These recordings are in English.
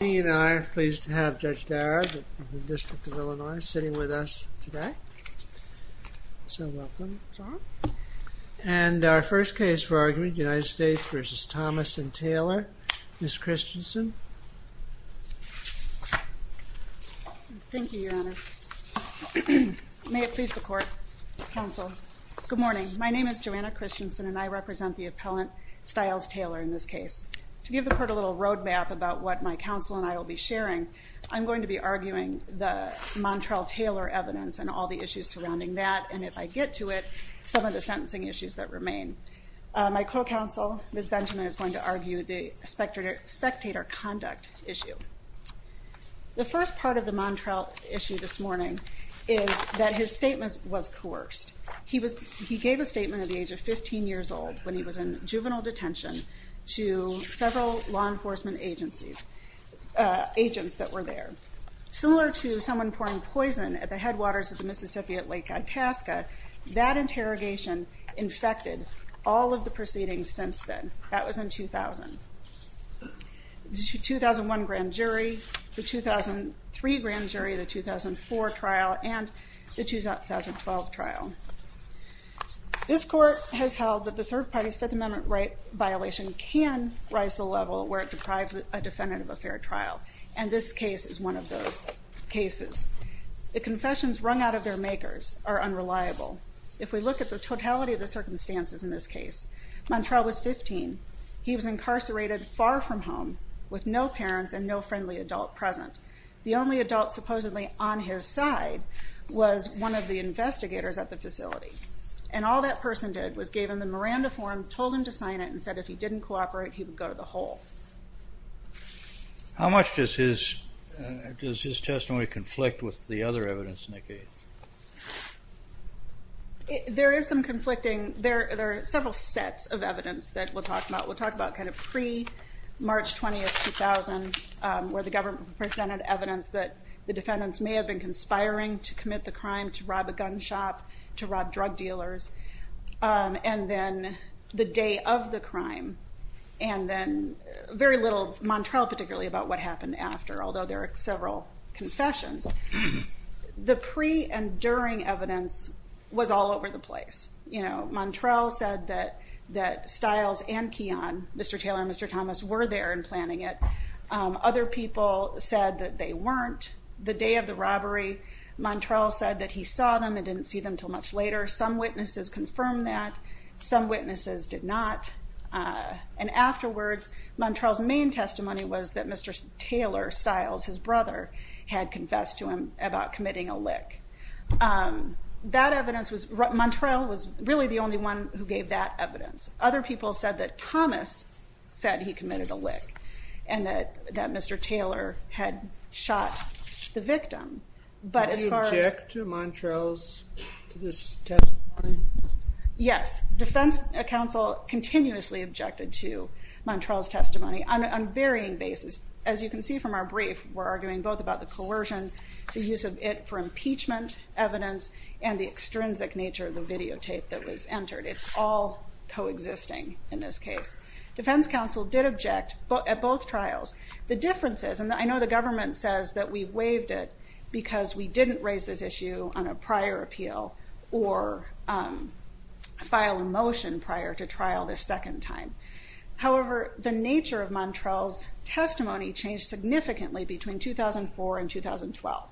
He and I are pleased to have Judge Darragh of the District of Illinois sitting with us today, so welcome. And our first case for argument, United States v. Thomas and Taylor, Ms. Christensen. Thank you, Your Honor. May it please the Court, Counsel. Good morning. My name is Joanna Christensen, and I represent the appellant, Stiles Taylor, in this case. To give the Court a little roadmap about what my counsel and I will be sharing, I'm going to be arguing the Montrell-Taylor evidence and all the issues surrounding that, and if I get to it, some of the sentencing issues that remain. My co-counsel, Ms. Benjamin, is going to argue the spectator conduct issue. The first part of the Montrell issue this morning is that his statement was coerced. He gave a statement at the age of 15 years old, when he was in juvenile detention, to several law enforcement agents that were there. Similar to someone pouring poison at the headwaters of the Mississippi at Lake Itasca, that interrogation infected all of the proceedings since then. That was in 2000. The 2001 grand jury, the 2003 grand jury, the 2004 trial, and the 2012 trial. This Court has held that the Third Party's Fifth Amendment violation can rise to a level where it deprives a defendant of a fair trial, and this case is one of those cases. The confessions wrung out of their makers are unreliable. If we look at the totality of the circumstances in this case, Montrell was 15. He was incarcerated far from home, with no parents and no friendly adult present. The only adult supposedly on his side was one of the investigators at the facility, and all that person did was gave him the Miranda form, told him to sign it, and said if he didn't cooperate, he would go to the hole. How much does his testimony conflict with the other evidence, Nikki? There are several sets of evidence that we'll talk about. We'll talk about pre-March 20, 2000, where the government presented evidence that the defendants may have been conspiring to commit the crime, to rob a gun shop, to rob drug dealers, and then the day of the crime, and then very little, Montrell particularly, about what happened after, although there are several confessions. The pre and during evidence was all over the place. Montrell said that Stiles and Keon, Mr. Taylor and Mr. Thomas, were there and planning it. Other people said that they weren't. The day of the robbery, Montrell said that he saw them and didn't see them until much later. Some witnesses confirmed that. Some witnesses did not. And afterwards, Montrell's main testimony was that Mr. Taylor, Stiles, his brother, had confessed to him about committing a lick. That evidence was, Montrell was really the only one who gave that evidence. Other people said that Thomas said he committed a lick and that Mr. Taylor had shot the victim. Did he object to Montrell's testimony? Yes. Defense counsel continuously objected to Montrell's testimony on a varying basis. As you can see from our brief, we're arguing both about the coercion, the use of it for impeachment evidence, and the extrinsic nature of the videotape that was entered. It's all coexisting in this case. Defense counsel did object at both trials. The difference is, and I know the government says that we waived it because we didn't raise this issue on a prior appeal or file a motion prior to trial the second time. However, the nature of Montrell's testimony changed significantly between 2004 and 2012.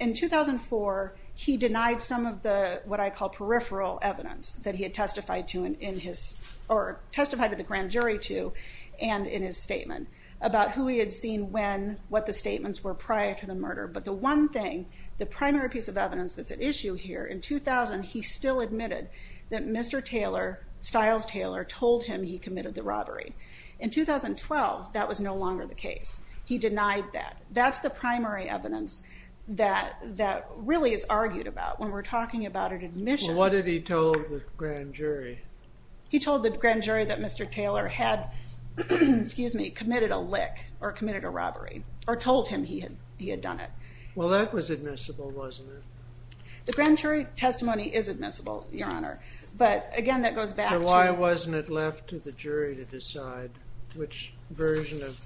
In 2004, he denied some of the, what I call peripheral evidence that he had testified to in his, or testified to the grand jury to and in his statement about who he had seen when, what the statements were prior to the murder. But the one thing, the primary piece of evidence that's at issue here, in 2000, he still admitted that Mr. Taylor, Stiles Taylor, told him he committed the robbery. In 2012, that was no longer the case. He denied that. That's the primary evidence that really is argued about when we're talking about an admission. Well, what had he told the grand jury? He told the grand jury that Mr. Taylor had committed a lick or committed a robbery, or told him he had done it. Well, that was admissible, wasn't it? The grand jury testimony is admissible, Your Honor. But, again, that goes back to- So why wasn't it left to the jury to decide which version of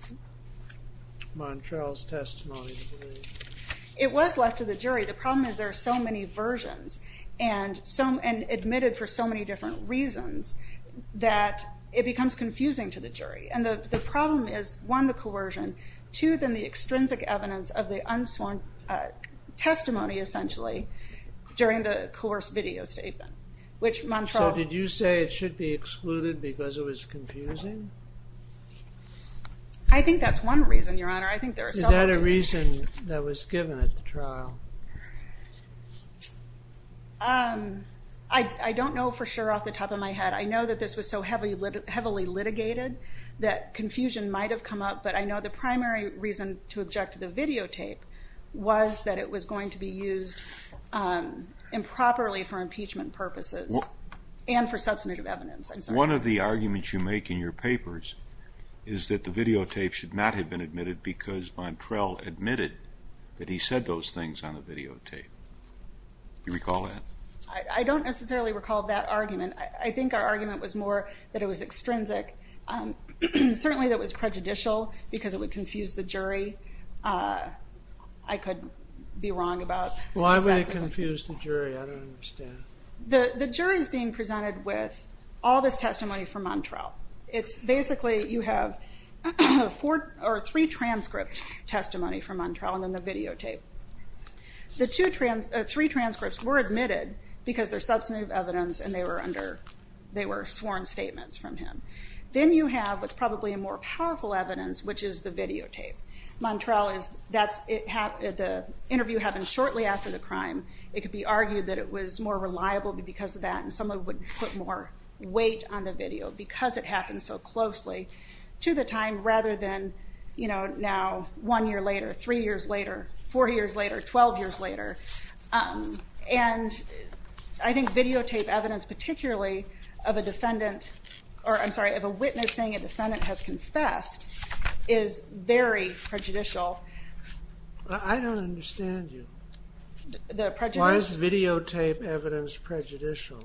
Montrell's testimony to believe? It was left to the jury. The problem is there are so many versions, and admitted for so many different reasons, that it becomes confusing to the jury. And the problem is, one, the coercion, two, then the extrinsic evidence of the unsworn testimony, essentially, during the coerced video statement, which Montrell- So did you say it should be excluded because it was confusing? I think that's one reason, Your Honor. I think there are several reasons. Is that a reason that was given at the trial? I don't know for sure off the top of my head. I know that this was so heavily litigated that confusion might have come up, but I know the primary reason to object to the videotape was that it was going to be used improperly for impeachment purposes and for substantive evidence. I'm sorry. One of the arguments you make in your papers is that the videotape should not have been admitted because Montrell admitted that he said those things on a videotape. Do you recall that? I don't necessarily recall that argument. I think our argument was more that it was extrinsic. Certainly, that was prejudicial because it would confuse the jury. I could be wrong about that. Why would it confuse the jury? I don't understand. The jury is being presented with all this testimony from Montrell. It's basically you have three transcript testimony from Montrell and then the videotape. The three transcripts were admitted because they're substantive evidence and they were sworn statements from him. Then you have what's probably a more powerful evidence, which is the videotape. The interview happened shortly after the crime. It could be argued that it was more reliable because of that and someone would put more weight on the video because it happened so closely to the time rather than now one year later, three years later, four years later, 12 years later. I think videotape evidence, particularly of a witness saying a defendant has confessed, is very prejudicial. I don't understand you. Why is videotape evidence prejudicial?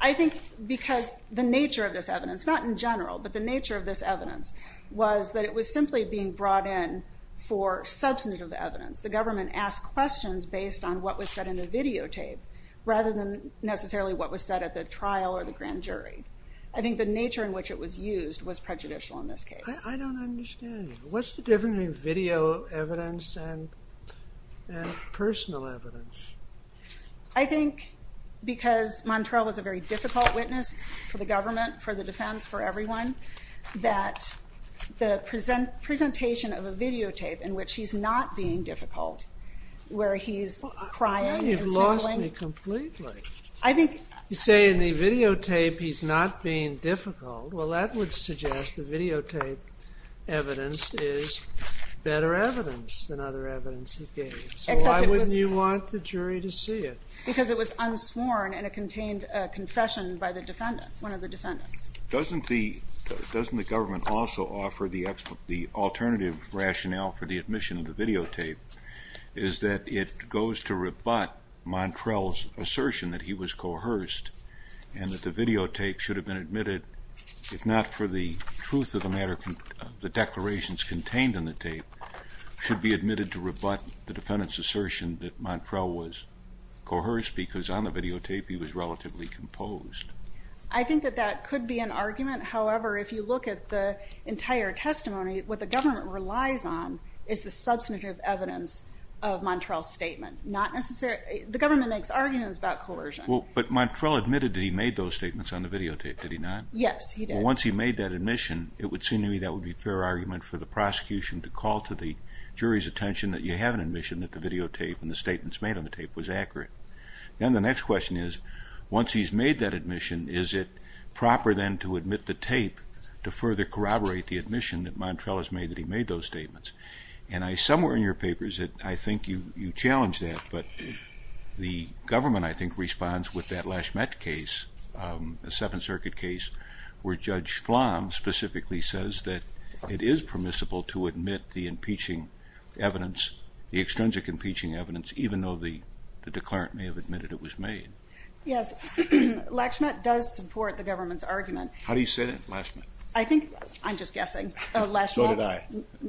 I think because the nature of this evidence, not in general, but the nature of this evidence was that it was simply being brought in for substantive evidence. The government asked questions based on what was said in the videotape rather than necessarily what was said at the trial or the grand jury. I think the nature in which it was used was prejudicial in this case. I don't understand you. What's the difference between video evidence and personal evidence? I think because Montrell was a very difficult witness for the government, for the defense, for everyone, that the presentation of a videotape in which he's not being difficult, where he's crying and sobbing. You've lost me completely. You say in the videotape he's not being difficult. Well, that would suggest the videotape evidence is better evidence than other evidence he gave. So why wouldn't you want the jury to see it? Because it was unsworn and it contained a confession by the defendant, one of the defendants. Doesn't the government also offer the alternative rationale for the admission of the videotape is that it goes to rebut Montrell's assertion that he was coerced and that the videotape should have been admitted, if not for the truth of the matter, the declarations contained in the tape, should be admitted to rebut the defendant's assertion that Montrell was coerced because on the videotape he was relatively composed? I think that that could be an argument. However, if you look at the entire testimony, what the government relies on is the substantive evidence of Montrell's statement. The government makes arguments about coercion. But Montrell admitted that he made those statements on the videotape, did he not? Yes, he did. Once he made that admission, it would seem to me that would be a fair argument for the prosecution to call to the jury's attention that you have an admission that the videotape and the statements made on the tape was accurate. Then the next question is, once he's made that admission, is it proper then to admit the tape to further corroborate the admission that Montrell has made that he made those statements? And somewhere in your papers, I think you challenge that, but the government, I think, responds with that Lashmet case, a Seventh Circuit case where Judge Flom specifically says that it is permissible to admit the impeaching evidence, the extrinsic impeaching evidence, even though the declarant may have admitted it was made. Yes, Lashmet does support the government's argument. How do you say that, Lashmet? I think, I'm just guessing, Lashmet. So did I.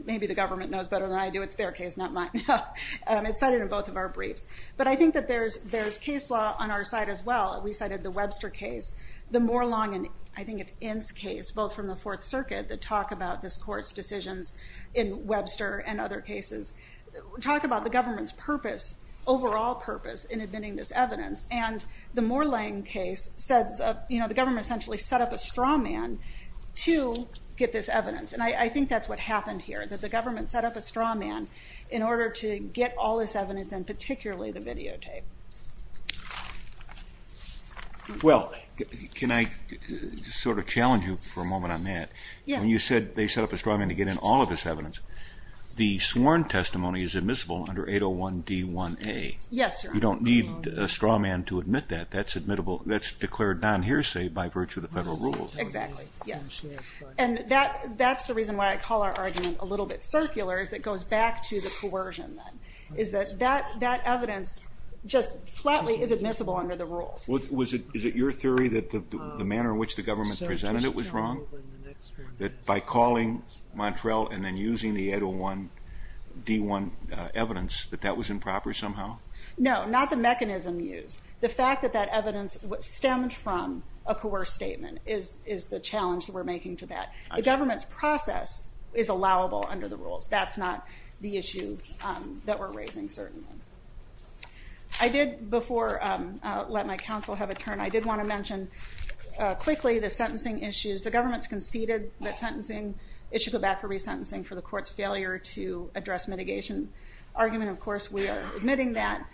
Maybe the government knows better than I do. It's their case, not mine. It's cited in both of our briefs. But I think that there's case law on our side as well. We cited the Webster case. The more long, I think it's Inns case, both from the Fourth Circuit, that talk about this court's decisions in Webster and other cases, talk about the government's purpose, overall purpose, in admitting this evidence. And the Moreland case says the government essentially set up a straw man to get this evidence. And I think that's what happened here, that the government set up a straw man in order to get all this evidence and particularly the videotape. Well, can I sort of challenge you for a moment on that? Yeah. When you said they set up a straw man to get in all of this evidence, the sworn testimony is admissible under 801D1A. Yes, Your Honor. You don't need a straw man to admit that. That's admittable. That's declared non-hearsay by virtue of the federal rules. Exactly, yes. And that's the reason why I call our argument a little bit circular, is it goes back to the coercion then. Is that that evidence just flatly is admissible under the rules. Is it your theory that the manner in which the government presented it was wrong, that by calling Montrell and then using the 801D1 evidence that that was improper somehow? No, not the mechanism used. The fact that that evidence stemmed from a coerced statement is the challenge that we're making to that. The government's process is allowable under the rules. That's not the issue that we're raising, certainly. I did, before I let my counsel have a turn, I did want to mention quickly the sentencing issues. The government's conceded that it should go back for resentencing for the court's failure to address mitigation argument. Of course, we are admitting that.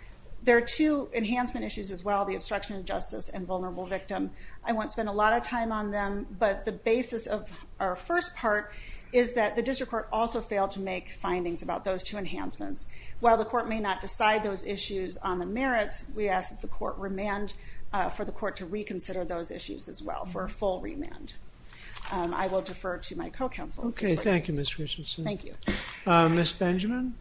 There are two enhancement issues as well, the obstruction of justice and vulnerable victim. I won't spend a lot of time on them, but the basis of our first part is that the district court also failed to make findings about those two enhancements. While the court may not decide those issues on the merits, we ask that the court remand for the court to reconsider those issues as well, for a full remand. I will defer to my co-counsel. Okay, thank you, Ms. Richardson. Thank you. Ms. Benjamin?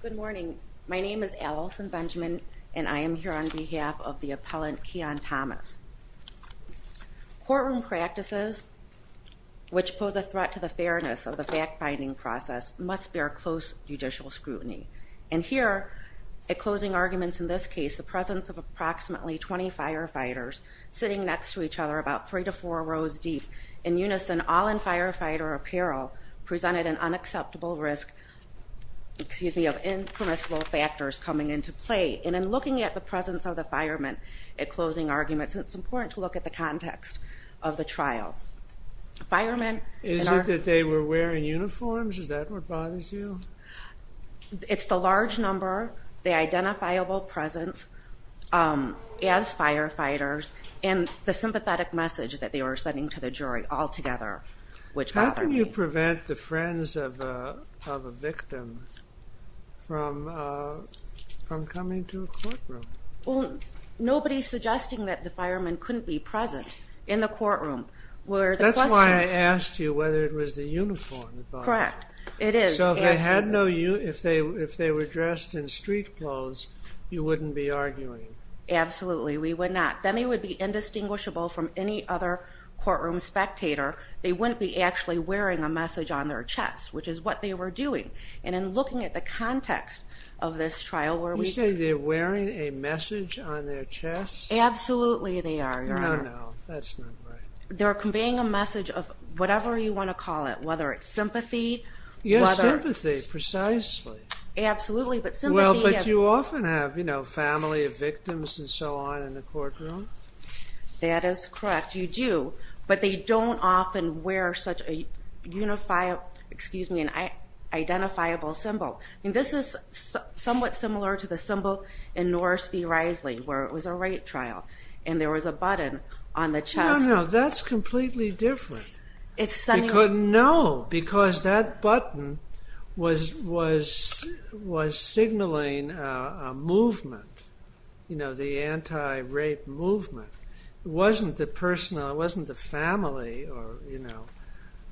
Good morning. My name is Allison Benjamin, and I am here on behalf of the appellant Keon Thomas. Courtroom practices, which pose a threat to the fairness of the fact-finding process, must bear close judicial scrutiny. And here, at closing arguments in this case, the presence of approximately 20 firefighters sitting next to each other, about three to four rows deep, in unison all in firefighter apparel, presented an unacceptable risk of impermissible factors coming into play. And in looking at the presence of the firemen at closing arguments, it's important to look at the context of the trial. Is it that they were wearing uniforms? Is that what bothers you? It's the large number, the identifiable presence as firefighters, and the sympathetic message that they were sending to the jury altogether, which bothered me. How can you prevent the friends of a victim from coming to a courtroom? Nobody is suggesting that the firemen couldn't be present in the courtroom. That's why I asked you whether it was the uniform. Correct. It is. So if they were dressed in street clothes, you wouldn't be arguing? Absolutely, we would not. Then they would be indistinguishable from any other courtroom spectator. They wouldn't be actually wearing a message on their chest, which is what they were doing. And in looking at the context of this trial where we- You say they're wearing a message on their chest? Absolutely they are. No, no, that's not right. They're conveying a message of whatever you want to call it, whether it's sympathy- Yes, sympathy, precisely. Absolutely, but sympathy is- Well, but you often have family of victims and so on in the courtroom. That is correct, you do. But they don't often wear such an identifiable symbol. This is somewhat similar to the symbol in Norris v. Risley where it was a rape trial and there was a button on the chest. No, no, that's completely different. It's sending- No, because that button was signaling a movement, the anti-rape movement. It wasn't the family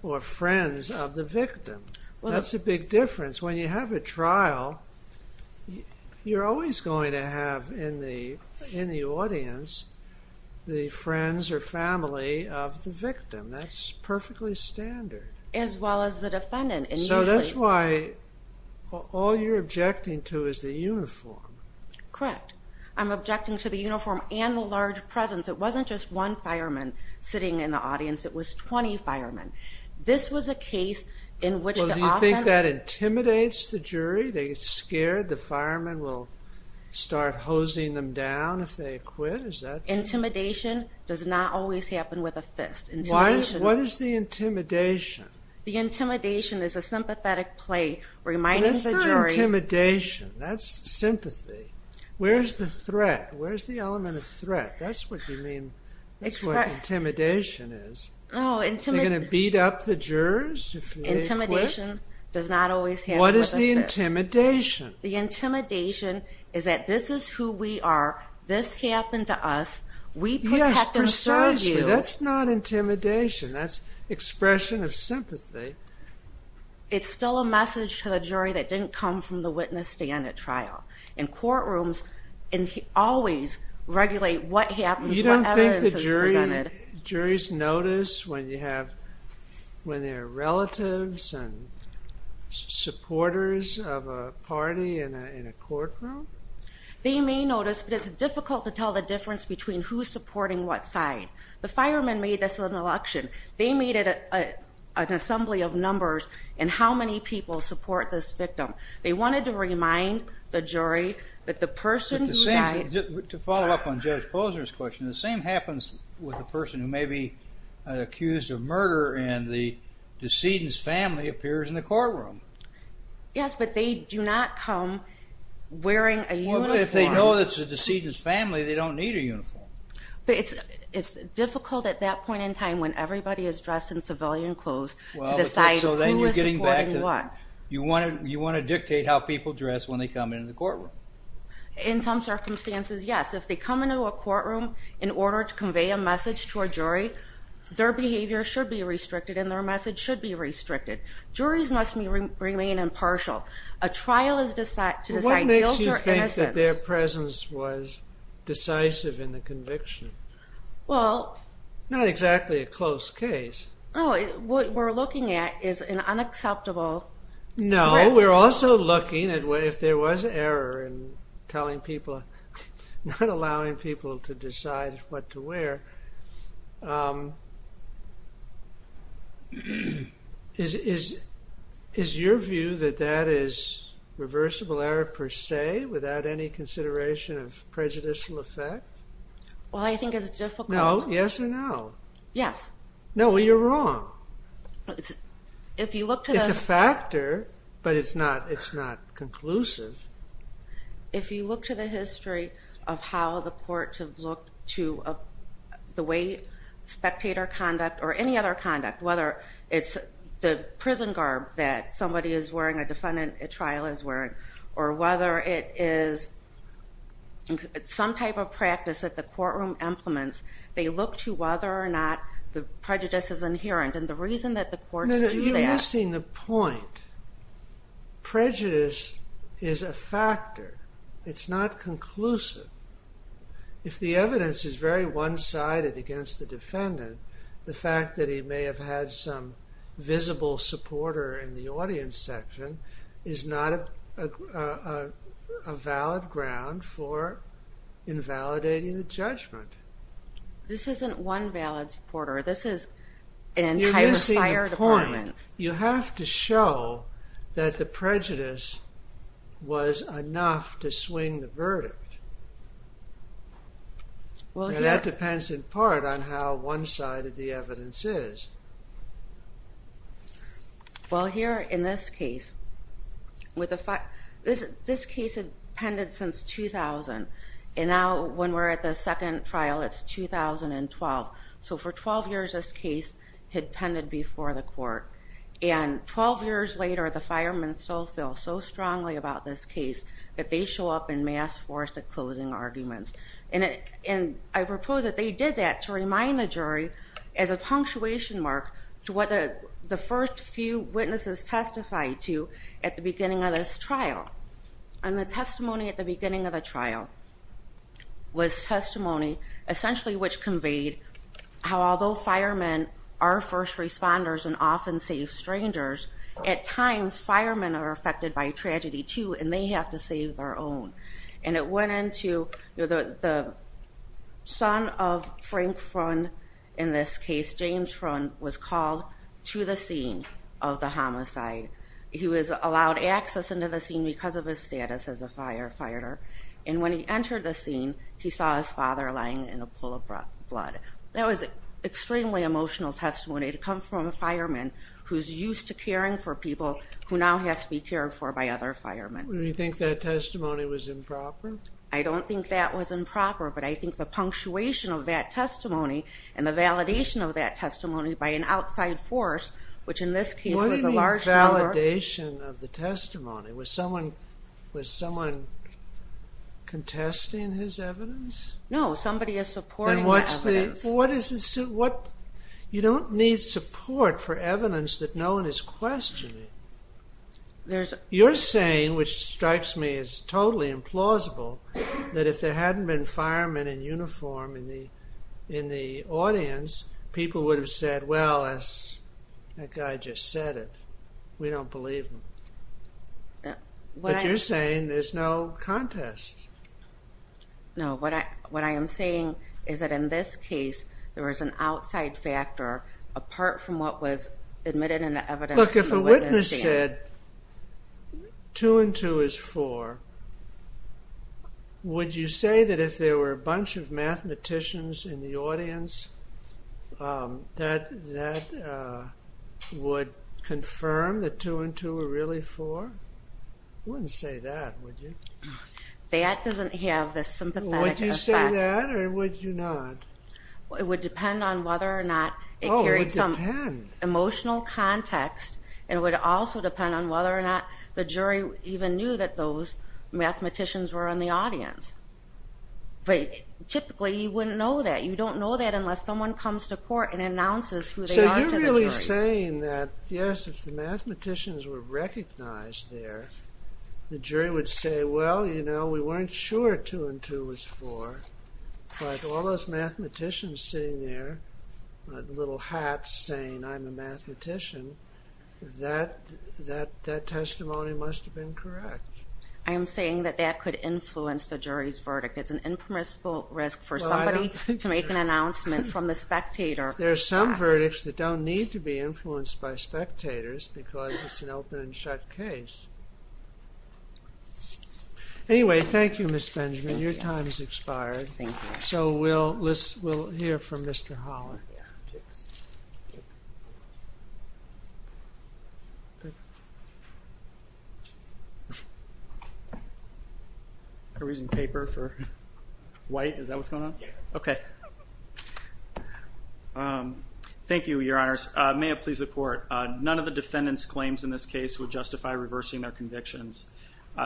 or friends of the victim. That's a big difference. When you have a trial, you're always going to have in the audience the friends or family of the victim. That's perfectly standard. As well as the defendant. So that's why all you're objecting to is the uniform. Correct. I'm objecting to the uniform and the large presence. It wasn't just one fireman sitting in the audience. It was 20 firemen. This was a case in which the offense- Well, do you think that intimidates the jury? They get scared the firemen will start hosing them down if they acquit? Is that- Intimidation does not always happen with a fist. What is the intimidation? The intimidation is a sympathetic play reminding the jury- That's not intimidation. That's sympathy. Where's the element of threat? That's what intimidation is. They're going to beat up the jurors if they acquit? Intimidation does not always happen with a fist. What is the intimidation? The intimidation is that this is who we are. This happened to us. We protect and serve you. Yes, precisely. That's not intimidation. That's expression of sympathy. It's still a message to the jury that didn't come from the witness stand at trial. And courtrooms always regulate what happens, what evidence is presented. You don't think the juries notice when they're relatives and supporters of a party in a courtroom? They may notice, but it's difficult to tell the difference between who's supporting what side. The firemen made this in an election. They made it an assembly of numbers in how many people support this victim. They wanted to remind the jury that the person who died- To follow up on Judge Posner's question, the same happens with the person who may be accused of murder and the decedent's family appears in the courtroom. Yes, but they do not come wearing a uniform. Well, but if they know it's the decedent's family, they don't need a uniform. But it's difficult at that point in time when everybody is dressed in civilian clothes to decide who is supporting what. You want to dictate how people dress when they come into the courtroom. In some circumstances, yes. If they come into a courtroom in order to convey a message to a jury, their behavior should be restricted and their message should be restricted. Juries must remain impartial. A trial is to decide guilt or innocence. What makes you think that their presence was decisive in the conviction? Well- Not exactly a close case. No, what we're looking at is an unacceptable- No, we're also looking at if there was error in telling people- not allowing people to decide what to wear. Is your view that that is reversible error per se without any consideration of prejudicial effect? Well, I think it's difficult- No, yes or no? Yes. No, you're wrong. It's a factor, but it's not conclusive. If you look to the history of how the courts have looked to the way spectator conduct or any other conduct, whether it's the prison garb that somebody is wearing, a defendant at trial is wearing, or whether it is some type of practice that the courtroom implements, they look to whether or not the prejudice is inherent. And the reason that the courts do that- No, no, you're missing the point. Prejudice is a factor. It's not conclusive. If the evidence is very one-sided against the defendant, the fact that he may have had some visible supporter in the audience section is not a valid ground for invalidating the judgment. This isn't one valid supporter. This is an entire fire department. You're missing the point. You have to show that the prejudice was enough to swing the verdict. And that depends in part on how one-sided the evidence is. Well, here in this case, this case had pended since 2000. And now when we're at the second trial, it's 2012. So for 12 years, this case had pended before the court. And 12 years later, the firemen still feel so strongly about this case that they show up in mass force to closing arguments. And I propose that they did that to remind the jury as a punctuation mark to what the first few witnesses testified to at the beginning of this trial. And the testimony at the beginning of the trial was testimony essentially which conveyed how although firemen are first responders and often save strangers, at times firemen are affected by tragedy too and they have to save their own. And it went into the son of Frank Frun, in this case, James Frun, was called to the scene of the homicide. He was allowed access into the scene because of his status as a firefighter. And when he entered the scene, he saw his father lying in a pool of blood. That was extremely emotional testimony to come from a fireman who's used to caring for people who now has to be cared for by other firemen. Do you think that testimony was improper? I don't think that was improper, but I think the punctuation of that testimony and the validation of that testimony by an outside force, which in this case was a large number... What do you mean validation of the testimony? Was someone contesting his evidence? No, somebody is supporting the evidence. Then what is the... You don't need support for evidence that no one is questioning. You're saying, which strikes me as totally implausible, that if there hadn't been firemen in uniform in the audience, people would have said, well, that guy just said it. We don't believe him. But you're saying there's no contest. No, what I am saying is that in this case, there was an outside factor apart from what was admitted in the evidence. Look, if a witness said two and two is four, would you say that if there were a bunch of mathematicians in the audience that that would confirm that two and two are really four? You wouldn't say that, would you? That doesn't have the sympathetic effect. Would you say that or would you not? Oh, it would depend. It would depend on the context, and it would also depend on whether or not the jury even knew that those mathematicians were in the audience. But typically, you wouldn't know that. You don't know that unless someone comes to court and announces who they are to the jury. So you're really saying that, yes, if the mathematicians were recognized there, the jury would say, well, you know, we weren't sure two and two was four, but all those mathematicians sitting there, little hats saying I'm a mathematician, that testimony must have been correct. I am saying that that could influence the jury's verdict. It's an impermissible risk for somebody to make an announcement from the spectator. There are some verdicts that don't need to be influenced by spectators because it's an open and shut case. Your time has expired. Thank you. So we'll hear from Mr. Holler. Are we using paper for white? Is that what's going on? Yes. Okay. Thank you, Your Honors. May it please the Court. None of the defendants' claims in this case would justify reversing their convictions.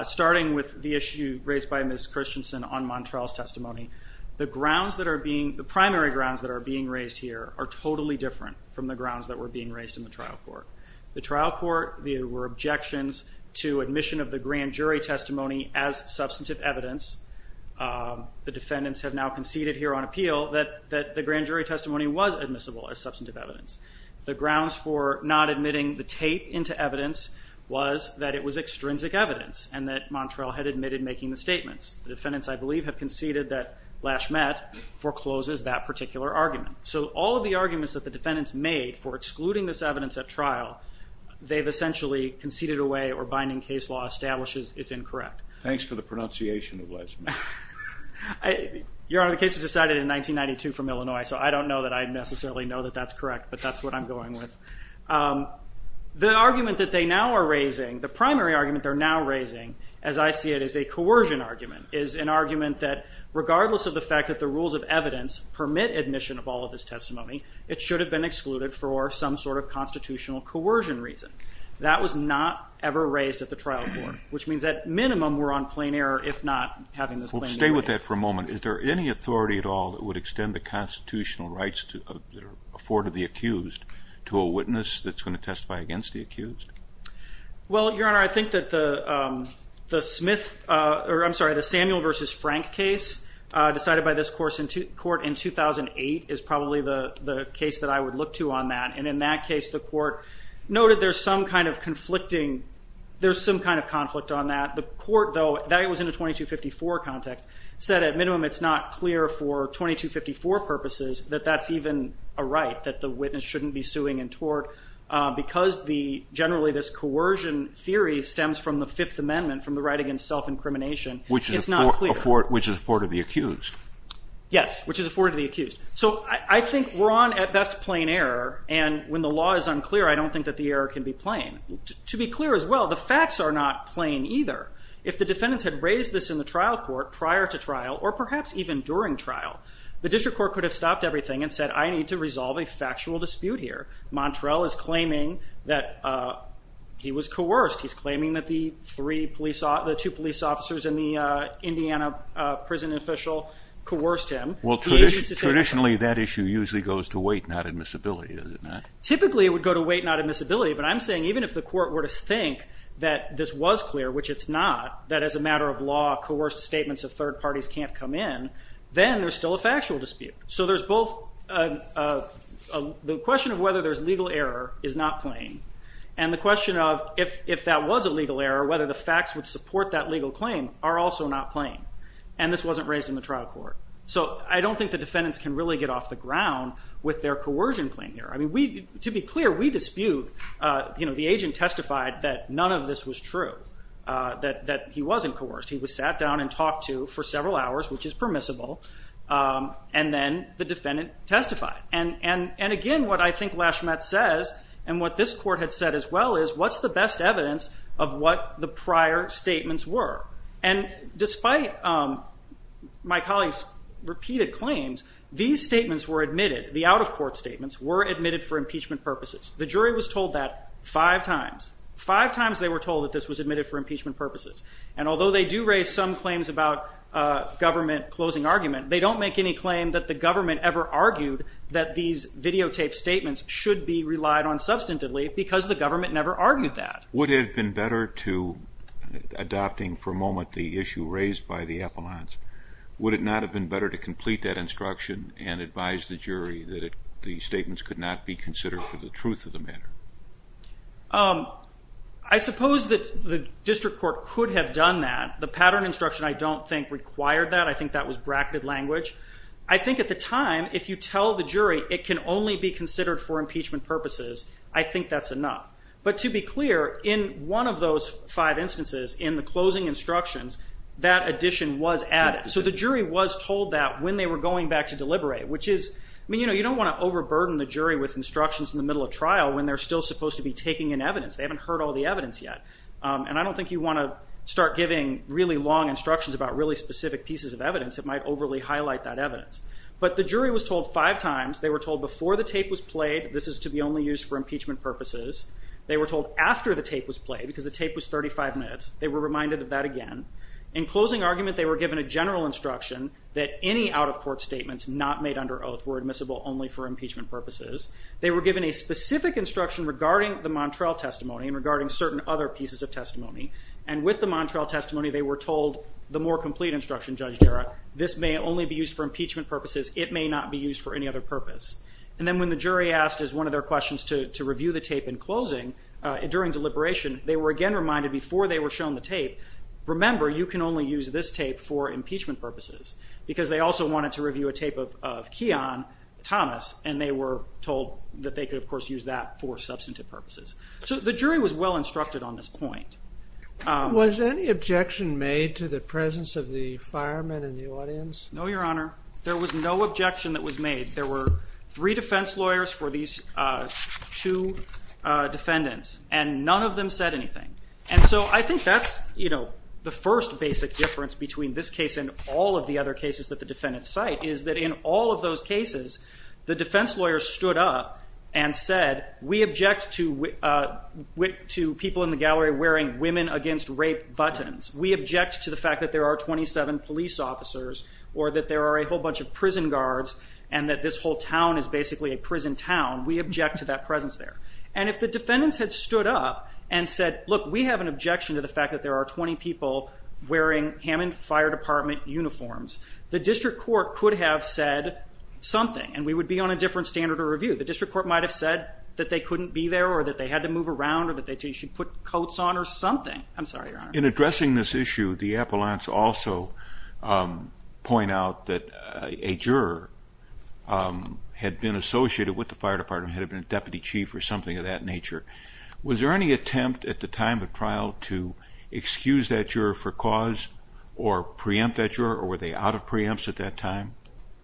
Starting with the issue raised by Ms. Christensen on Montrell's testimony, the grounds that are being, the primary grounds that are being raised here are totally different from the grounds that were being raised in the trial court. The trial court, there were objections to admission of the grand jury testimony as substantive evidence. The defendants have now conceded here on appeal that the grand jury testimony was admissible as substantive evidence. The grounds for not admitting the tape into evidence was that it was extrinsic evidence and that Montrell had admitted making the statements. The defendants, I believe, have conceded that Lashmet forecloses that particular argument. So all of the arguments that the defendants made for excluding this evidence at trial, they've essentially conceded away or binding case law establishes is incorrect. Thanks for the pronunciation of Lashmet. Your Honor, the case was decided in 1992 from Illinois, so I don't know that I necessarily know that that's correct, but that's what I'm going with. The argument that they now are raising, the primary argument they're now raising, as I see it, is a coercion argument, is an argument that regardless of the fact that the rules of evidence permit admission of all of this testimony, it should have been excluded for some sort of constitutional coercion reason. That was not ever raised at the trial court, which means at minimum we're on plain error if not having this plain error. Stay with that for a moment. Is there any authority at all that would extend the constitutional rights to afford to the accused to a witness that's going to testify against the accused? Well, Your Honor, I think that the Smith, or I'm sorry, the Samuel versus Frank case decided by this court in 2008 is probably the case that I would look to on that, and in that case the court noted there's some kind of conflicting, there's some kind of conflict on that. The court, though, that was in a 2254 context, said at minimum it's not clear for 2254 purposes that that's even a right, that the witness shouldn't be suing in tort, because generally this coercion theory stems from the Fifth Amendment, from the right against self-incrimination, which is not clear. Which is afforded to the accused. Yes, which is afforded to the accused. So I think we're on, at best, plain error, and when the law is unclear, I don't think that the error can be plain. To be clear as well, the facts are not plain either. If the defendants had raised this in the trial court prior to trial, or perhaps even during trial, the district court could have stopped everything and said, I need to resolve a factual dispute here. Montrell is claiming that he was coerced. He's claiming that the two police officers and the Indiana prison official coerced him. Well, traditionally that issue usually goes to weight, not admissibility, does it not? Typically it would go to weight, not admissibility, but I'm saying even if the court were to think that this was clear, which it's not, that as a matter of law, coerced statements of third parties can't come in, then there's still a factual dispute. So there's both, the question of whether there's legal error is not plain, and the question of if that was a legal error, whether the facts would support that legal claim are also not plain, and this wasn't raised in the trial court. So I don't think the defendants can really get off the ground with their coercion claim here. To be clear, we dispute, the agent testified that none of this was true, that he wasn't coerced. He was sat down and talked to for several hours, which is permissible, and then the defendant testified. And again, what I think Lashmet says, and what this court had said as well, is what's the best evidence of what the prior statements were? And despite my colleague's repeated claims, these statements were admitted, the out-of-court statements were admitted for impeachment purposes. The jury was told that five times. Five times they were told that this was admitted for impeachment purposes, and although they do raise some claims about government closing argument, they don't make any claim that the government ever argued that these videotaped statements should be relied on substantively because the government never argued that. Would it have been better to, adopting for a moment the issue raised by the appellants, would it not have been better to complete that instruction and advise the jury that the statements could not be considered for the truth of the matter? I suppose that the district court could have done that. The pattern instruction, I don't think required that. I think that was bracketed language. I think at the time, if you tell the jury it can only be considered for impeachment purposes, I think that's enough. But to be clear, in one of those five instances, in the closing instructions, that addition was added. So the jury was told that when they were going back to deliberate, which is, I mean, you know, you cannot overburden the jury with instructions in the middle of trial when they're still supposed to be taking in evidence. They haven't heard all the evidence yet. And I don't think you want to start giving really long instructions about really specific pieces of evidence that might overly highlight that evidence. But the jury was told five times, they were told before the tape was played, this is to be only used for impeachment purposes. They were told after the tape was played because the tape was 35 minutes. They were reminded of that again. In closing argument, they were given a general instruction that any out of court statements not made under oath were admissible only for impeachment purposes. They were given a specific instruction regarding the Montrell testimony and regarding certain other pieces of testimony. And with the Montrell testimony, they were told the more complete instruction, Judge Jarrah, this may only be used for impeachment purposes. It may not be used for any other purpose. And then when the jury asked, as one of their questions to review the tape in closing, during deliberation, they were again reminded before they were shown the tape, remember you can only use this tape for impeachment purposes because they also wanted to review a tape of Keon Thomas. And they were told that they could, of course, use that for substantive purposes. So the jury was well instructed on this point. Was any objection made to the presence of the firemen in the audience? No, Your Honor. There was no objection that was made. There were three defense lawyers for these two defendants, and none of them said anything. And so I think that's the first basic difference between this case and all of the other cases that the defendants cite is that in all of those cases, the defense lawyers stood up and said, we object to people in the gallery wearing women against rape buttons. We object to the fact that there are 27 police officers, or that there are a whole bunch of prison guards, and that this whole town is basically a prison town. We object to that presence there. And if the defendants had stood up and said, look, we have an objection to the fact that there are 20 people wearing Hammond Fire Department uniforms, the district court could have said something, and we would be on a different standard of review. The district court might have said that they couldn't be there or that they had to move around or that they should put coats on or something. I'm sorry, Your Honor. In addressing this issue, the appellants also point out that a juror had been associated with the fire department, had been a deputy chief or something of that nature. Was there any attempt at the time of trial to excuse that juror for cause or preempt that juror, or were they out of preempts at that time?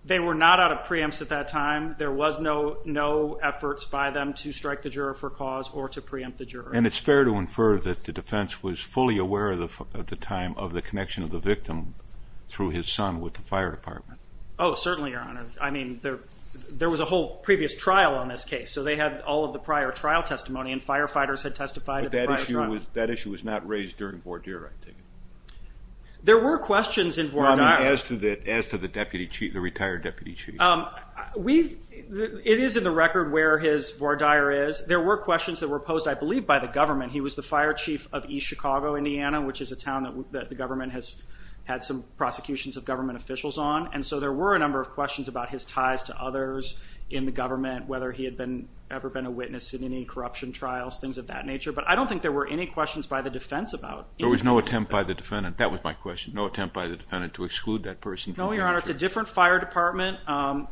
They were not out of preempts at that time. There was no efforts by them to strike the juror for cause or to preempt the juror. And it's fair to infer that the defense was fully aware at the time of the connection of the victim through his son with the fire department. Oh, certainly, Your Honor. I mean, there was a whole previous trial on this case, so they had all of the prior trial testimony, and firefighters had testified at the prior trial. That issue was not raised during Vordier, I take it. There were questions in Vordier. As to the retired deputy chief. It is in the record where his Vordier is. There were questions that were posed, I believe, by the government. He was the fire chief of East Chicago, Indiana, which is a town that the government has had some prosecutions of government officials on. And so there were a number of questions about his ties to others in the government, whether he had ever been a witness in any corruption trials, things of that nature. But I don't think there were any questions by the defense about it. There was no attempt by the defendant. That was my question. No attempt by the defendant to exclude that person. No, Your Honor. It's a different fire department.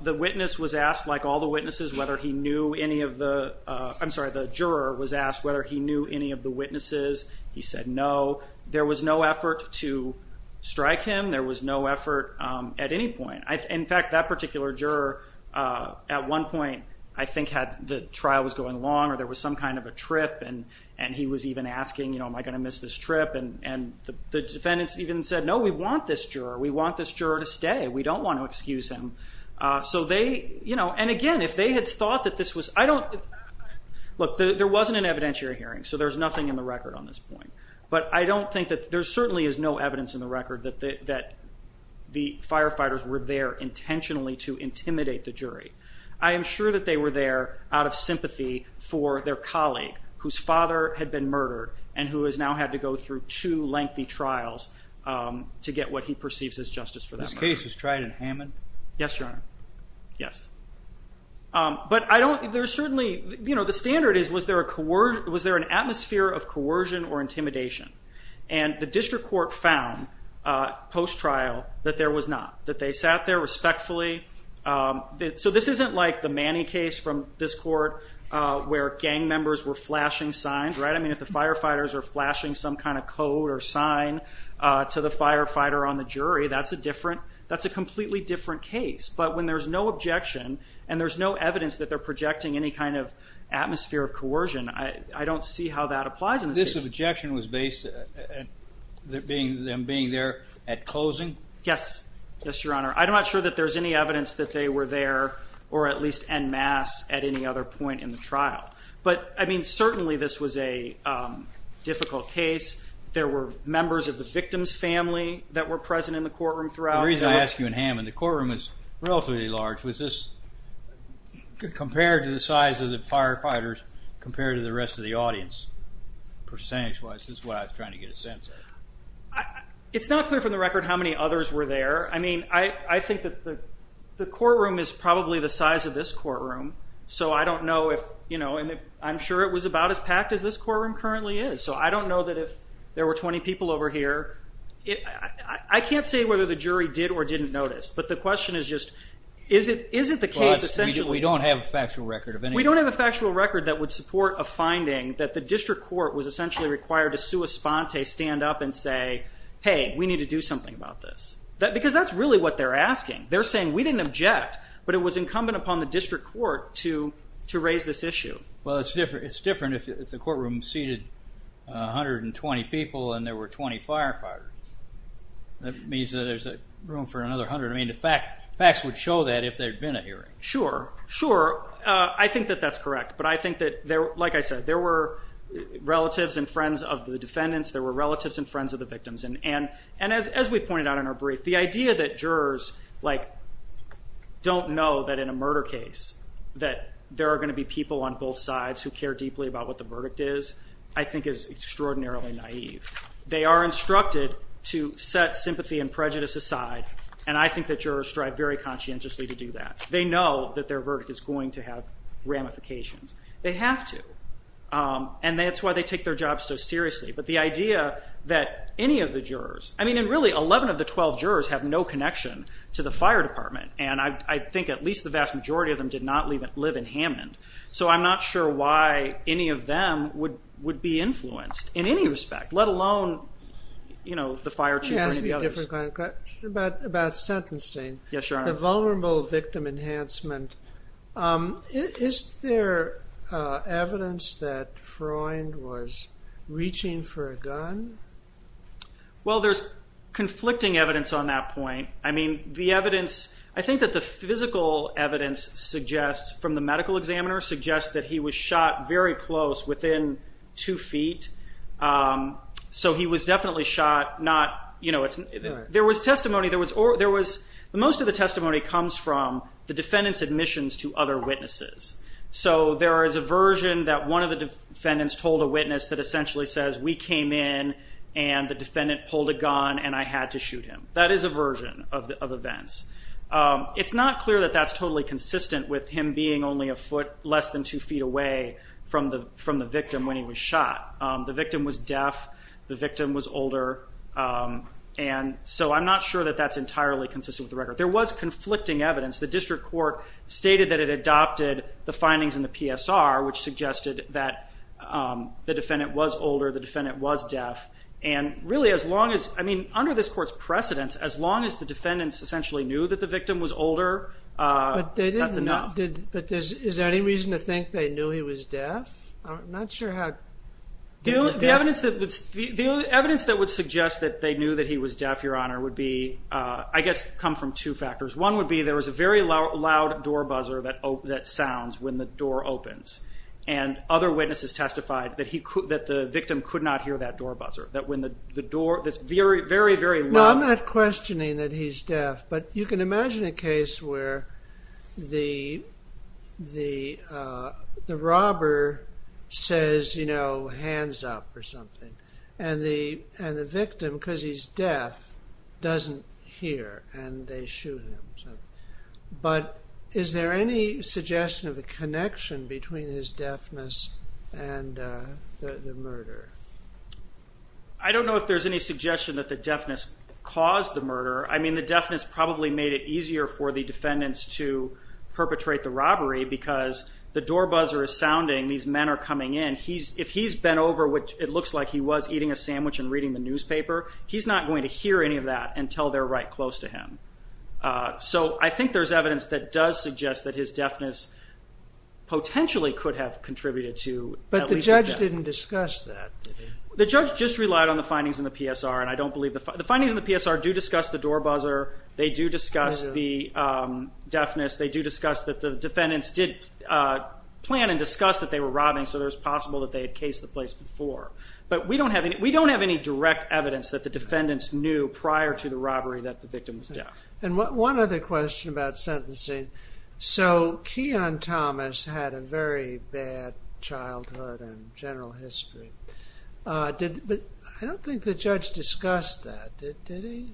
The witness was asked, like all the witnesses, whether he knew any of the, I'm sorry, the juror was asked whether he knew any of the witnesses. He said no. There was no effort to strike him. There was no effort at any point. In fact, that particular juror, at one point, I think had the trial was going along or there was some kind of a trip, and he was even asking, you know, am I going to miss this trip? And the defendants even said, no, we want this juror. We want this juror to stay. We don't want to excuse him. So they, you know, and again, if they had thought that this was, I don't, look, there wasn't an evidentiary hearing, so there's nothing in the record on this point. But I don't think that there certainly is no evidence in the record that the firefighters were there intentionally to intimidate the jury. I am sure that they were there out of sympathy for their colleague, whose father had been murdered and who has now had to go through two lengthy trials to get what he perceives as justice for that murder. This case was tried in Hammond? Yes, Your Honor. Yes. But I don't, there's certainly, you know, the standard is was there a, was there an atmosphere of coercion or intimidation? And the district court found post-trial that there was not, that they sat there respectfully. So this isn't like the Manny case from this court, where gang members were flashing signs, right? I mean, if the firefighters are flashing some kind of code or sign to the firefighter on the jury, that's a different, that's a completely different case. But when there's no objection and there's no evidence that they're projecting any kind of atmosphere of coercion, I don't see how that applies in this case. Yes. Yes, Your Honor. I'm not sure that there's any evidence that they were there or at least en masse at any other point in the trial. But, I mean, certainly this was a difficult case. There were members of the victim's family that were present in the courtroom throughout. The reason I ask you in Hammond, the courtroom is relatively large. Was this, compared to the size of the firefighters, compared to the rest of the audience, percentage-wise, is what I was trying to get a sense of. It's not clear from the record how many others were there. I mean, I think that the courtroom is probably the size of this courtroom. So I don't know if, you know, and I'm sure it was about as packed as this courtroom currently is. So I don't know that if there were 20 people over here. I can't say whether the jury did or didn't notice. But the question is just, is it the case essentially. We don't have a factual record of any. We don't have a factual record that would support a finding that the district court was essentially required to sua sponte, stand up and say, hey, we need to do something about this. Because that's really what they're asking. They're saying, we didn't object, but it was incumbent upon the district court to raise this issue. Well, it's different if the courtroom seated 120 people and there were 20 firefighters. That means that there's room for another 100. I mean, the facts would show that if there had been a hearing. Sure, sure. I think that that's correct, but I think that, like I said, there were relatives and friends of the defendants. There were relatives and friends of the victims. And as we pointed out in our brief, the idea that jurors don't know that in a murder case that there are going to be people on both sides who care deeply about what the verdict is, I think is extraordinarily naive. They are instructed to set sympathy and prejudice aside, and I think that jurors strive very conscientiously to do that. They know that their verdict is going to have ramifications. They have to, and that's why they take their jobs so seriously. But the idea that any of the jurors... I mean, and really, 11 of the 12 jurors have no connection to the fire department, and I think at least the vast majority of them did not live in Hammond. So I'm not sure why any of them would be influenced in any respect, let alone, you know, the fire chief or any of the others. Can I ask you a different kind of question? About sentencing. Yes, Your Honor. The vulnerable victim enhancement. Is there evidence that Freund was reaching for a gun? Well, there's conflicting evidence on that point. I mean, the evidence... I think that the physical evidence suggests, from the medical examiner, suggests that he was shot very close, within two feet. So he was definitely shot not... You know, there was testimony... Most of the testimony comes from the defendant's admissions to other witnesses. So there is a version that one of the defendants told a witness that essentially says, we came in and the defendant pulled a gun and I had to shoot him. That is a version of events. It's not clear that that's totally consistent with him being only a foot less than two feet away from the victim when he was shot. The victim was deaf, the victim was older, and so I'm not sure that that's entirely consistent with the record. There was conflicting evidence. The district court stated that it adopted the findings in the PSR, which suggested that the defendant was older, the defendant was deaf. And really, as long as... I mean, under this court's precedence, as long as the defendants essentially knew that the victim was older, that's enough. But is there any reason to think they knew he was deaf? I'm not sure how... The evidence that would suggest that they knew that he was deaf, Your Honor, would be, I guess, come from two factors. One would be there was a very loud door buzzer that sounds when the door opens. And other witnesses testified that the victim could not hear that door buzzer. That when the door... No, I'm not questioning that he's deaf, but you can imagine a case where the robber says, you know, hands up or something, and the victim, because he's deaf, doesn't hear, and they shoot him. But is there any suggestion of a connection between his deafness and the murder? I don't know if there's any suggestion that the deafness caused the murder. I mean, the deafness probably made it easier for the defendants to perpetrate the robbery because the door buzzer is sounding, these men are coming in. If he's bent over, which it looks like he was eating a sandwich and reading the newspaper, he's not going to hear any of that until they're right close to him. So I think there's evidence that does suggest that his deafness potentially could have contributed to... But the judge didn't discuss that, did he? The judge just relied on the findings in the PSR, and I don't believe... The findings in the PSR do discuss the door buzzer. They do discuss the deafness. They do discuss that the defendants did plan and discuss that they were robbing, so it was possible that they had cased the place before. But we don't have any direct evidence that the defendants knew prior to the robbery that the victim was deaf. And one other question about sentencing. So Keon Thomas had a very bad childhood and general history. But I don't think the judge discussed that, did he?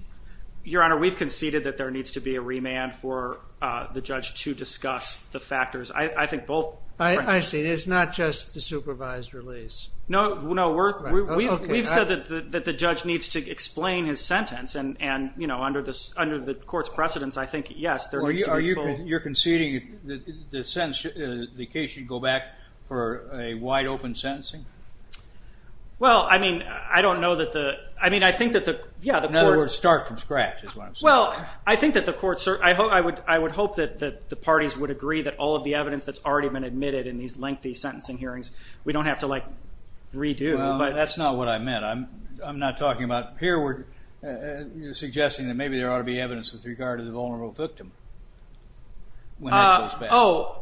Your Honor, we've conceded that there needs to be a remand for the judge to discuss the factors. I think both... I see. It's not just the supervised release. No, we've said that the judge needs to explain his sentence, and under the court's precedence, I think, yes, there needs to be full... You're conceding that the case should go back for a wide-open sentencing? Well, I mean, I don't know that the... I mean, I think that the... In other words, start from scratch, is what I'm saying. Well, I think that the court... I would hope that the parties would agree that all of the evidence that's already been admitted in these lengthy sentencing hearings, we don't have to, like, redo, but... Well, that's not what I meant. I'm not talking about... Here we're suggesting that maybe there ought to be evidence with regard to the vulnerable victim when that goes back. Oh,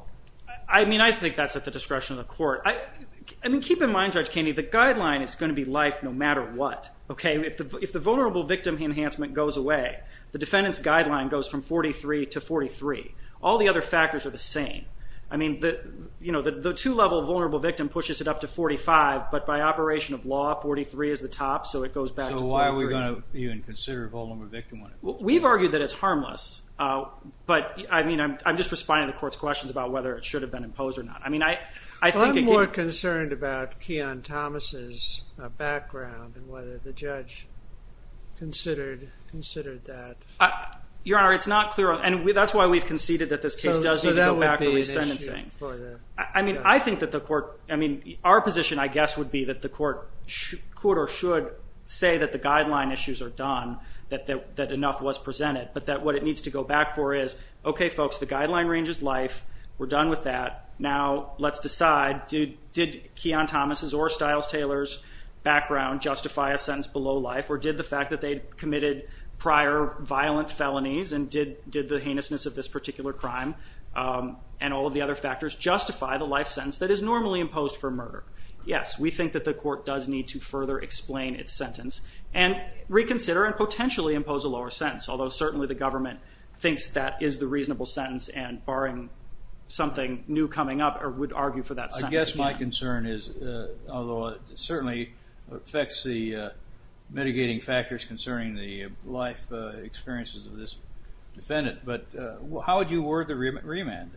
I mean, I think that's at the discretion of the court. I mean, keep in mind, Judge Kennedy, the guideline is going to be life no matter what, okay? If the vulnerable victim enhancement goes away, the defendant's guideline goes from 43 to 43. All the other factors are the same. I mean, you know, the two-level vulnerable victim pushes it up to 45, but by operation of law, 43 is the top, so it goes back to 43. So why are we going to even consider a vulnerable victim when it... We've argued that it's harmless, but, I mean, I'm just responding to the court's questions about whether it should have been imposed or not. I mean, I think... I'm more concerned about Keon Thomas's background and whether the judge considered that. Your Honour, it's not clear... And that's why we've conceded that this case does need to go back for resentencing. I mean, I think that the court... I mean, our position, I guess, would be that the court could or should say that the guideline issues are done, that enough was presented, but that what it needs to go back for is, okay, folks, the guideline range is life, we're done with that, now let's decide, did Keon Thomas's or Stiles-Taylor's background justify a sentence below life, or did the fact that they'd committed prior violent felonies and did the heinousness of this particular crime and all of the other factors justify the life sentence that is normally imposed for murder? Yes, we think that the court does need to further explain its sentence and reconsider and potentially impose a lower sentence, although certainly the government thinks that is the reasonable sentence and, barring something new coming up, would argue for that sentence. I guess my concern is, although it certainly affects the mitigating factors concerning the life experiences of this defendant, but how would you award the remand?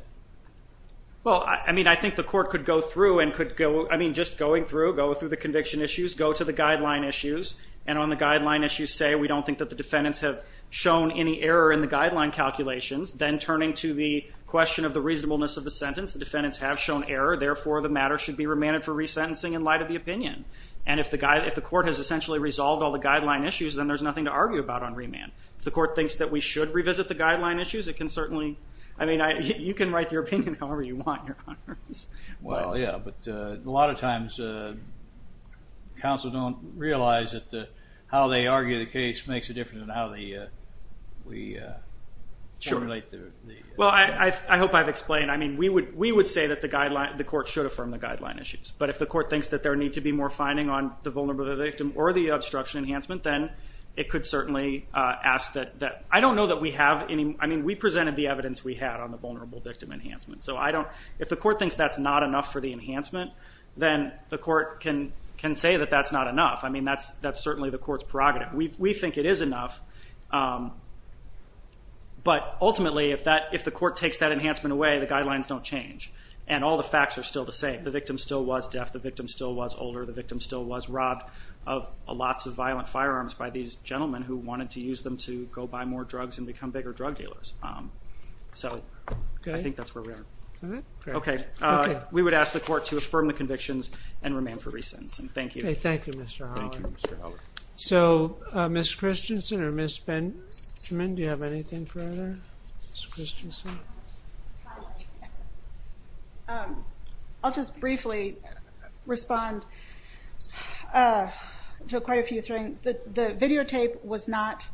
Well, I mean, I think the court could go through and could go, I mean, just going through, go through the conviction issues, go to the guideline issues, and on the guideline issues say, we don't think that the defendants have shown any error in the guideline calculations, then turning to the question of the reasonableness of the sentence, the defendants have shown error, therefore the matter should be remanded for resentencing in light of the opinion. And if the court has essentially resolved all the guideline issues, then there's nothing to argue about on remand. If the court thinks that we should revisit the guideline issues, it can certainly, I mean, you can write your opinion however you want, Your Honors. Well, yeah, but a lot of times counsel don't realize that how they argue the case makes a difference in how we formulate the... Well, I hope I've explained. I mean, we would say that the court should affirm the guideline issues, but if the court thinks that there needs to be more finding on the vulnerability of the victim or the obstruction enhancement, then it could certainly ask that... I don't know that we have any... I mean, we presented the evidence we had on the vulnerable victim enhancement, so if the court thinks that's not enough for the enhancement, then the court can say that that's not enough. I mean, that's certainly the court's prerogative. We think it is enough, but ultimately, if the court takes that enhancement away, the guidelines don't change, and all the facts are still the same. The victim still was deaf, the victim still was older, the victim still was robbed of lots of violent firearms by these gentlemen who wanted to use them to go buy more drugs and become bigger drug dealers. So, I think that's where we are. Okay. We would ask the court to affirm the convictions and remain for re-sentence, and thank you. Okay, thank you, Mr. Holler. So, Ms. Christensen or Ms. Benjamin, do you have anything further? Ms. Christensen? Hi. I'll just briefly respond to quite a few things. The videotape was not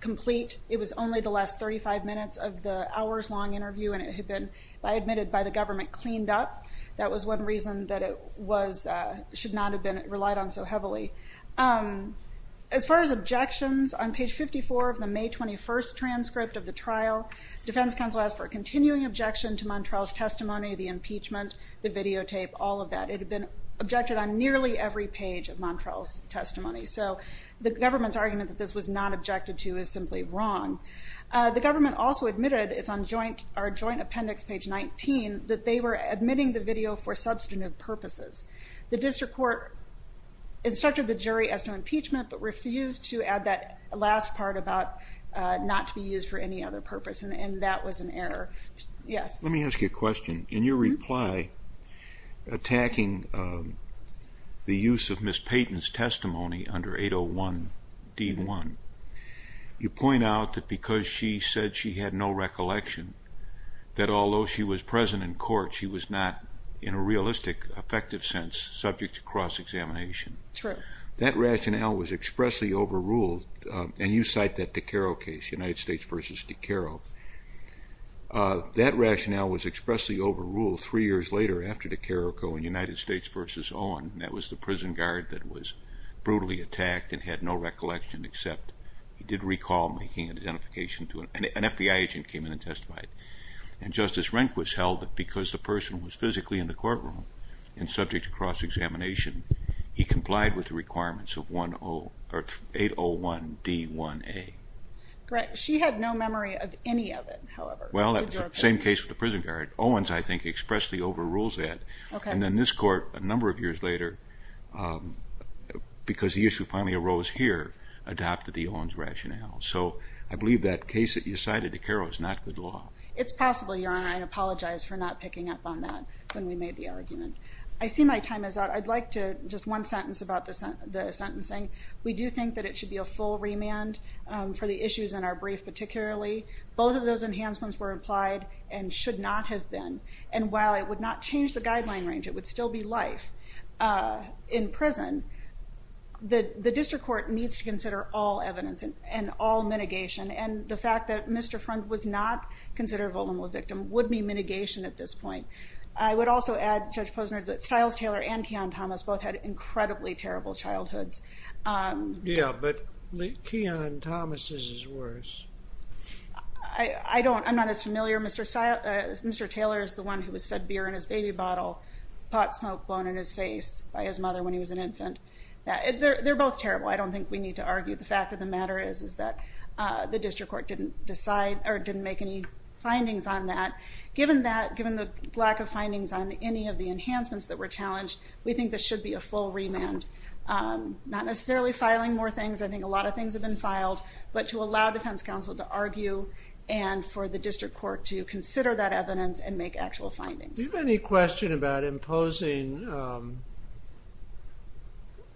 complete. It was only the last 35 minutes of the hours-long interview, and it had been, I admitted, by the government cleaned up. That was one reason that it was... should not have been relied on so heavily. As far as objections, on page 54 of the May 21st transcript of the trial, the defense counsel asked for a continuing objection to Montrell's testimony, the impeachment, the videotape, all of that. It had been objected on nearly every page of Montrell's testimony, so the government's argument that this was not objected to is simply wrong. The government also admitted, it's on our joint appendix, page 19, that they were admitting the video for substantive purposes. The district court instructed the jury as to impeachment, but refused to add that last part about not to be used for any other purpose, and that was an error. Yes? Let me ask you a question. In your reply attacking the use of Ms. Payton's testimony under 801D1, you point out that because she said she had no recollection, that although she was present in court, she was not, in a realistic, effective sense, subject to cross-examination. True. That rationale was expressly overruled, and you cite that DiCaro case, United States v. DiCaro. That rationale was expressly overruled three years later after DiCaro going United States v. Owen. That was the prison guard that was brutally attacked and had no recollection, except he did recall making an identification to an FBI agent who came in and testified. And Justice Rehnquist held that because the person was physically in the courtroom and subject to cross-examination, he complied with the requirements of 801D1A. Great. She had no memory of any of it, however. Well, that was the same case with the prison guard. Owen's, I think, expressly overrules that. And then this court, a number of years later, because the issue finally arose here, adopted the Owens rationale. So I believe that case that you cited, DiCaro, is not good law. It's possible, Your Honor. I apologize for not picking up on that when we made the argument. I see my time is up. I'd like to just one sentence about the sentencing. We do think that it should be a full remand for the issues in our brief, particularly. Both of those enhancements were applied and should not have been. And while it would not change the guideline range, it would still be life in prison, the district court needs to consider all evidence and all mitigation. And the fact that Mr. Freund was not considered a vulnerable victim would be mitigation at this point. I would also add, Judge Posner, that Stiles-Taylor and Keon-Thomas both had incredibly terrible childhoods. Yeah, but Keon-Thomas' is worse. I don't, I'm not as familiar. Mr. Stiles, Mr. Taylor is the one who was fed beer in his baby bottle, pot smoke blown in his face by his mother when he was an infant. They're both terrible. I don't think we need to argue. The fact of the matter is that the district court didn't decide or didn't make any findings on that. Given that, given the lack of findings on any of the enhancements that were challenged, we think there should be a full remand. Not necessarily filing more things, I think a lot of things have been filed, but to allow defense counsel to argue and for the district court to consider that evidence and make actual findings. Do you have any question about imposing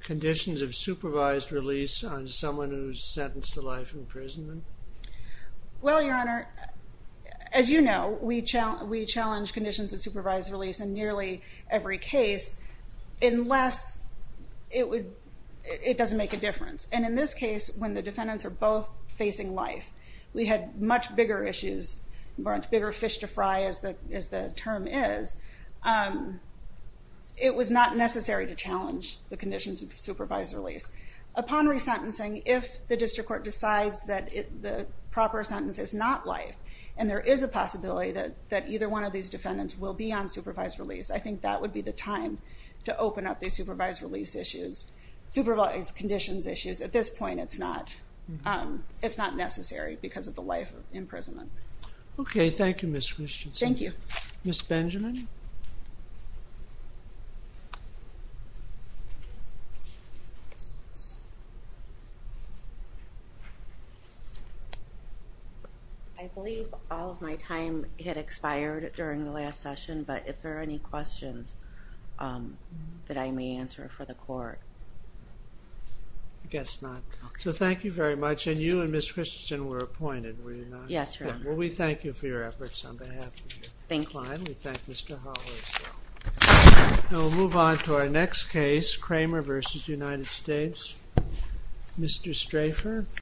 conditions of supervised release on someone who's sentenced to life in prison? Well, Your Honor, as you know, we challenge conditions of supervised release in nearly every case unless it would, it doesn't make a difference. And in this case, when the defendants are both facing life, we had much bigger issues, much bigger fish to fry as the term is. It was not necessary to challenge the conditions of supervised release. Upon resentencing, if the district court decides that the proper sentence is not life and there is a possibility that either one of these defendants will be on supervised release, I think that would be the time to open up the supervised release issues, supervised conditions issues. At this point, it's not necessary because of the life imprisonment. Okay, thank you, Ms. Christensen. Thank you. Ms. Benjamin. Ms. Benjamin. I believe all of my time had expired during the last session, but if there are any questions that I may answer for the court. I guess not. So thank you very much. And you and Ms. Christensen were appointed, were you not? Yes, Your Honor. Well, we thank you for your efforts on behalf of your client. We thank Mr. Hollis. We'll move on to our next case, Kramer v. United States. Mr. Strafer.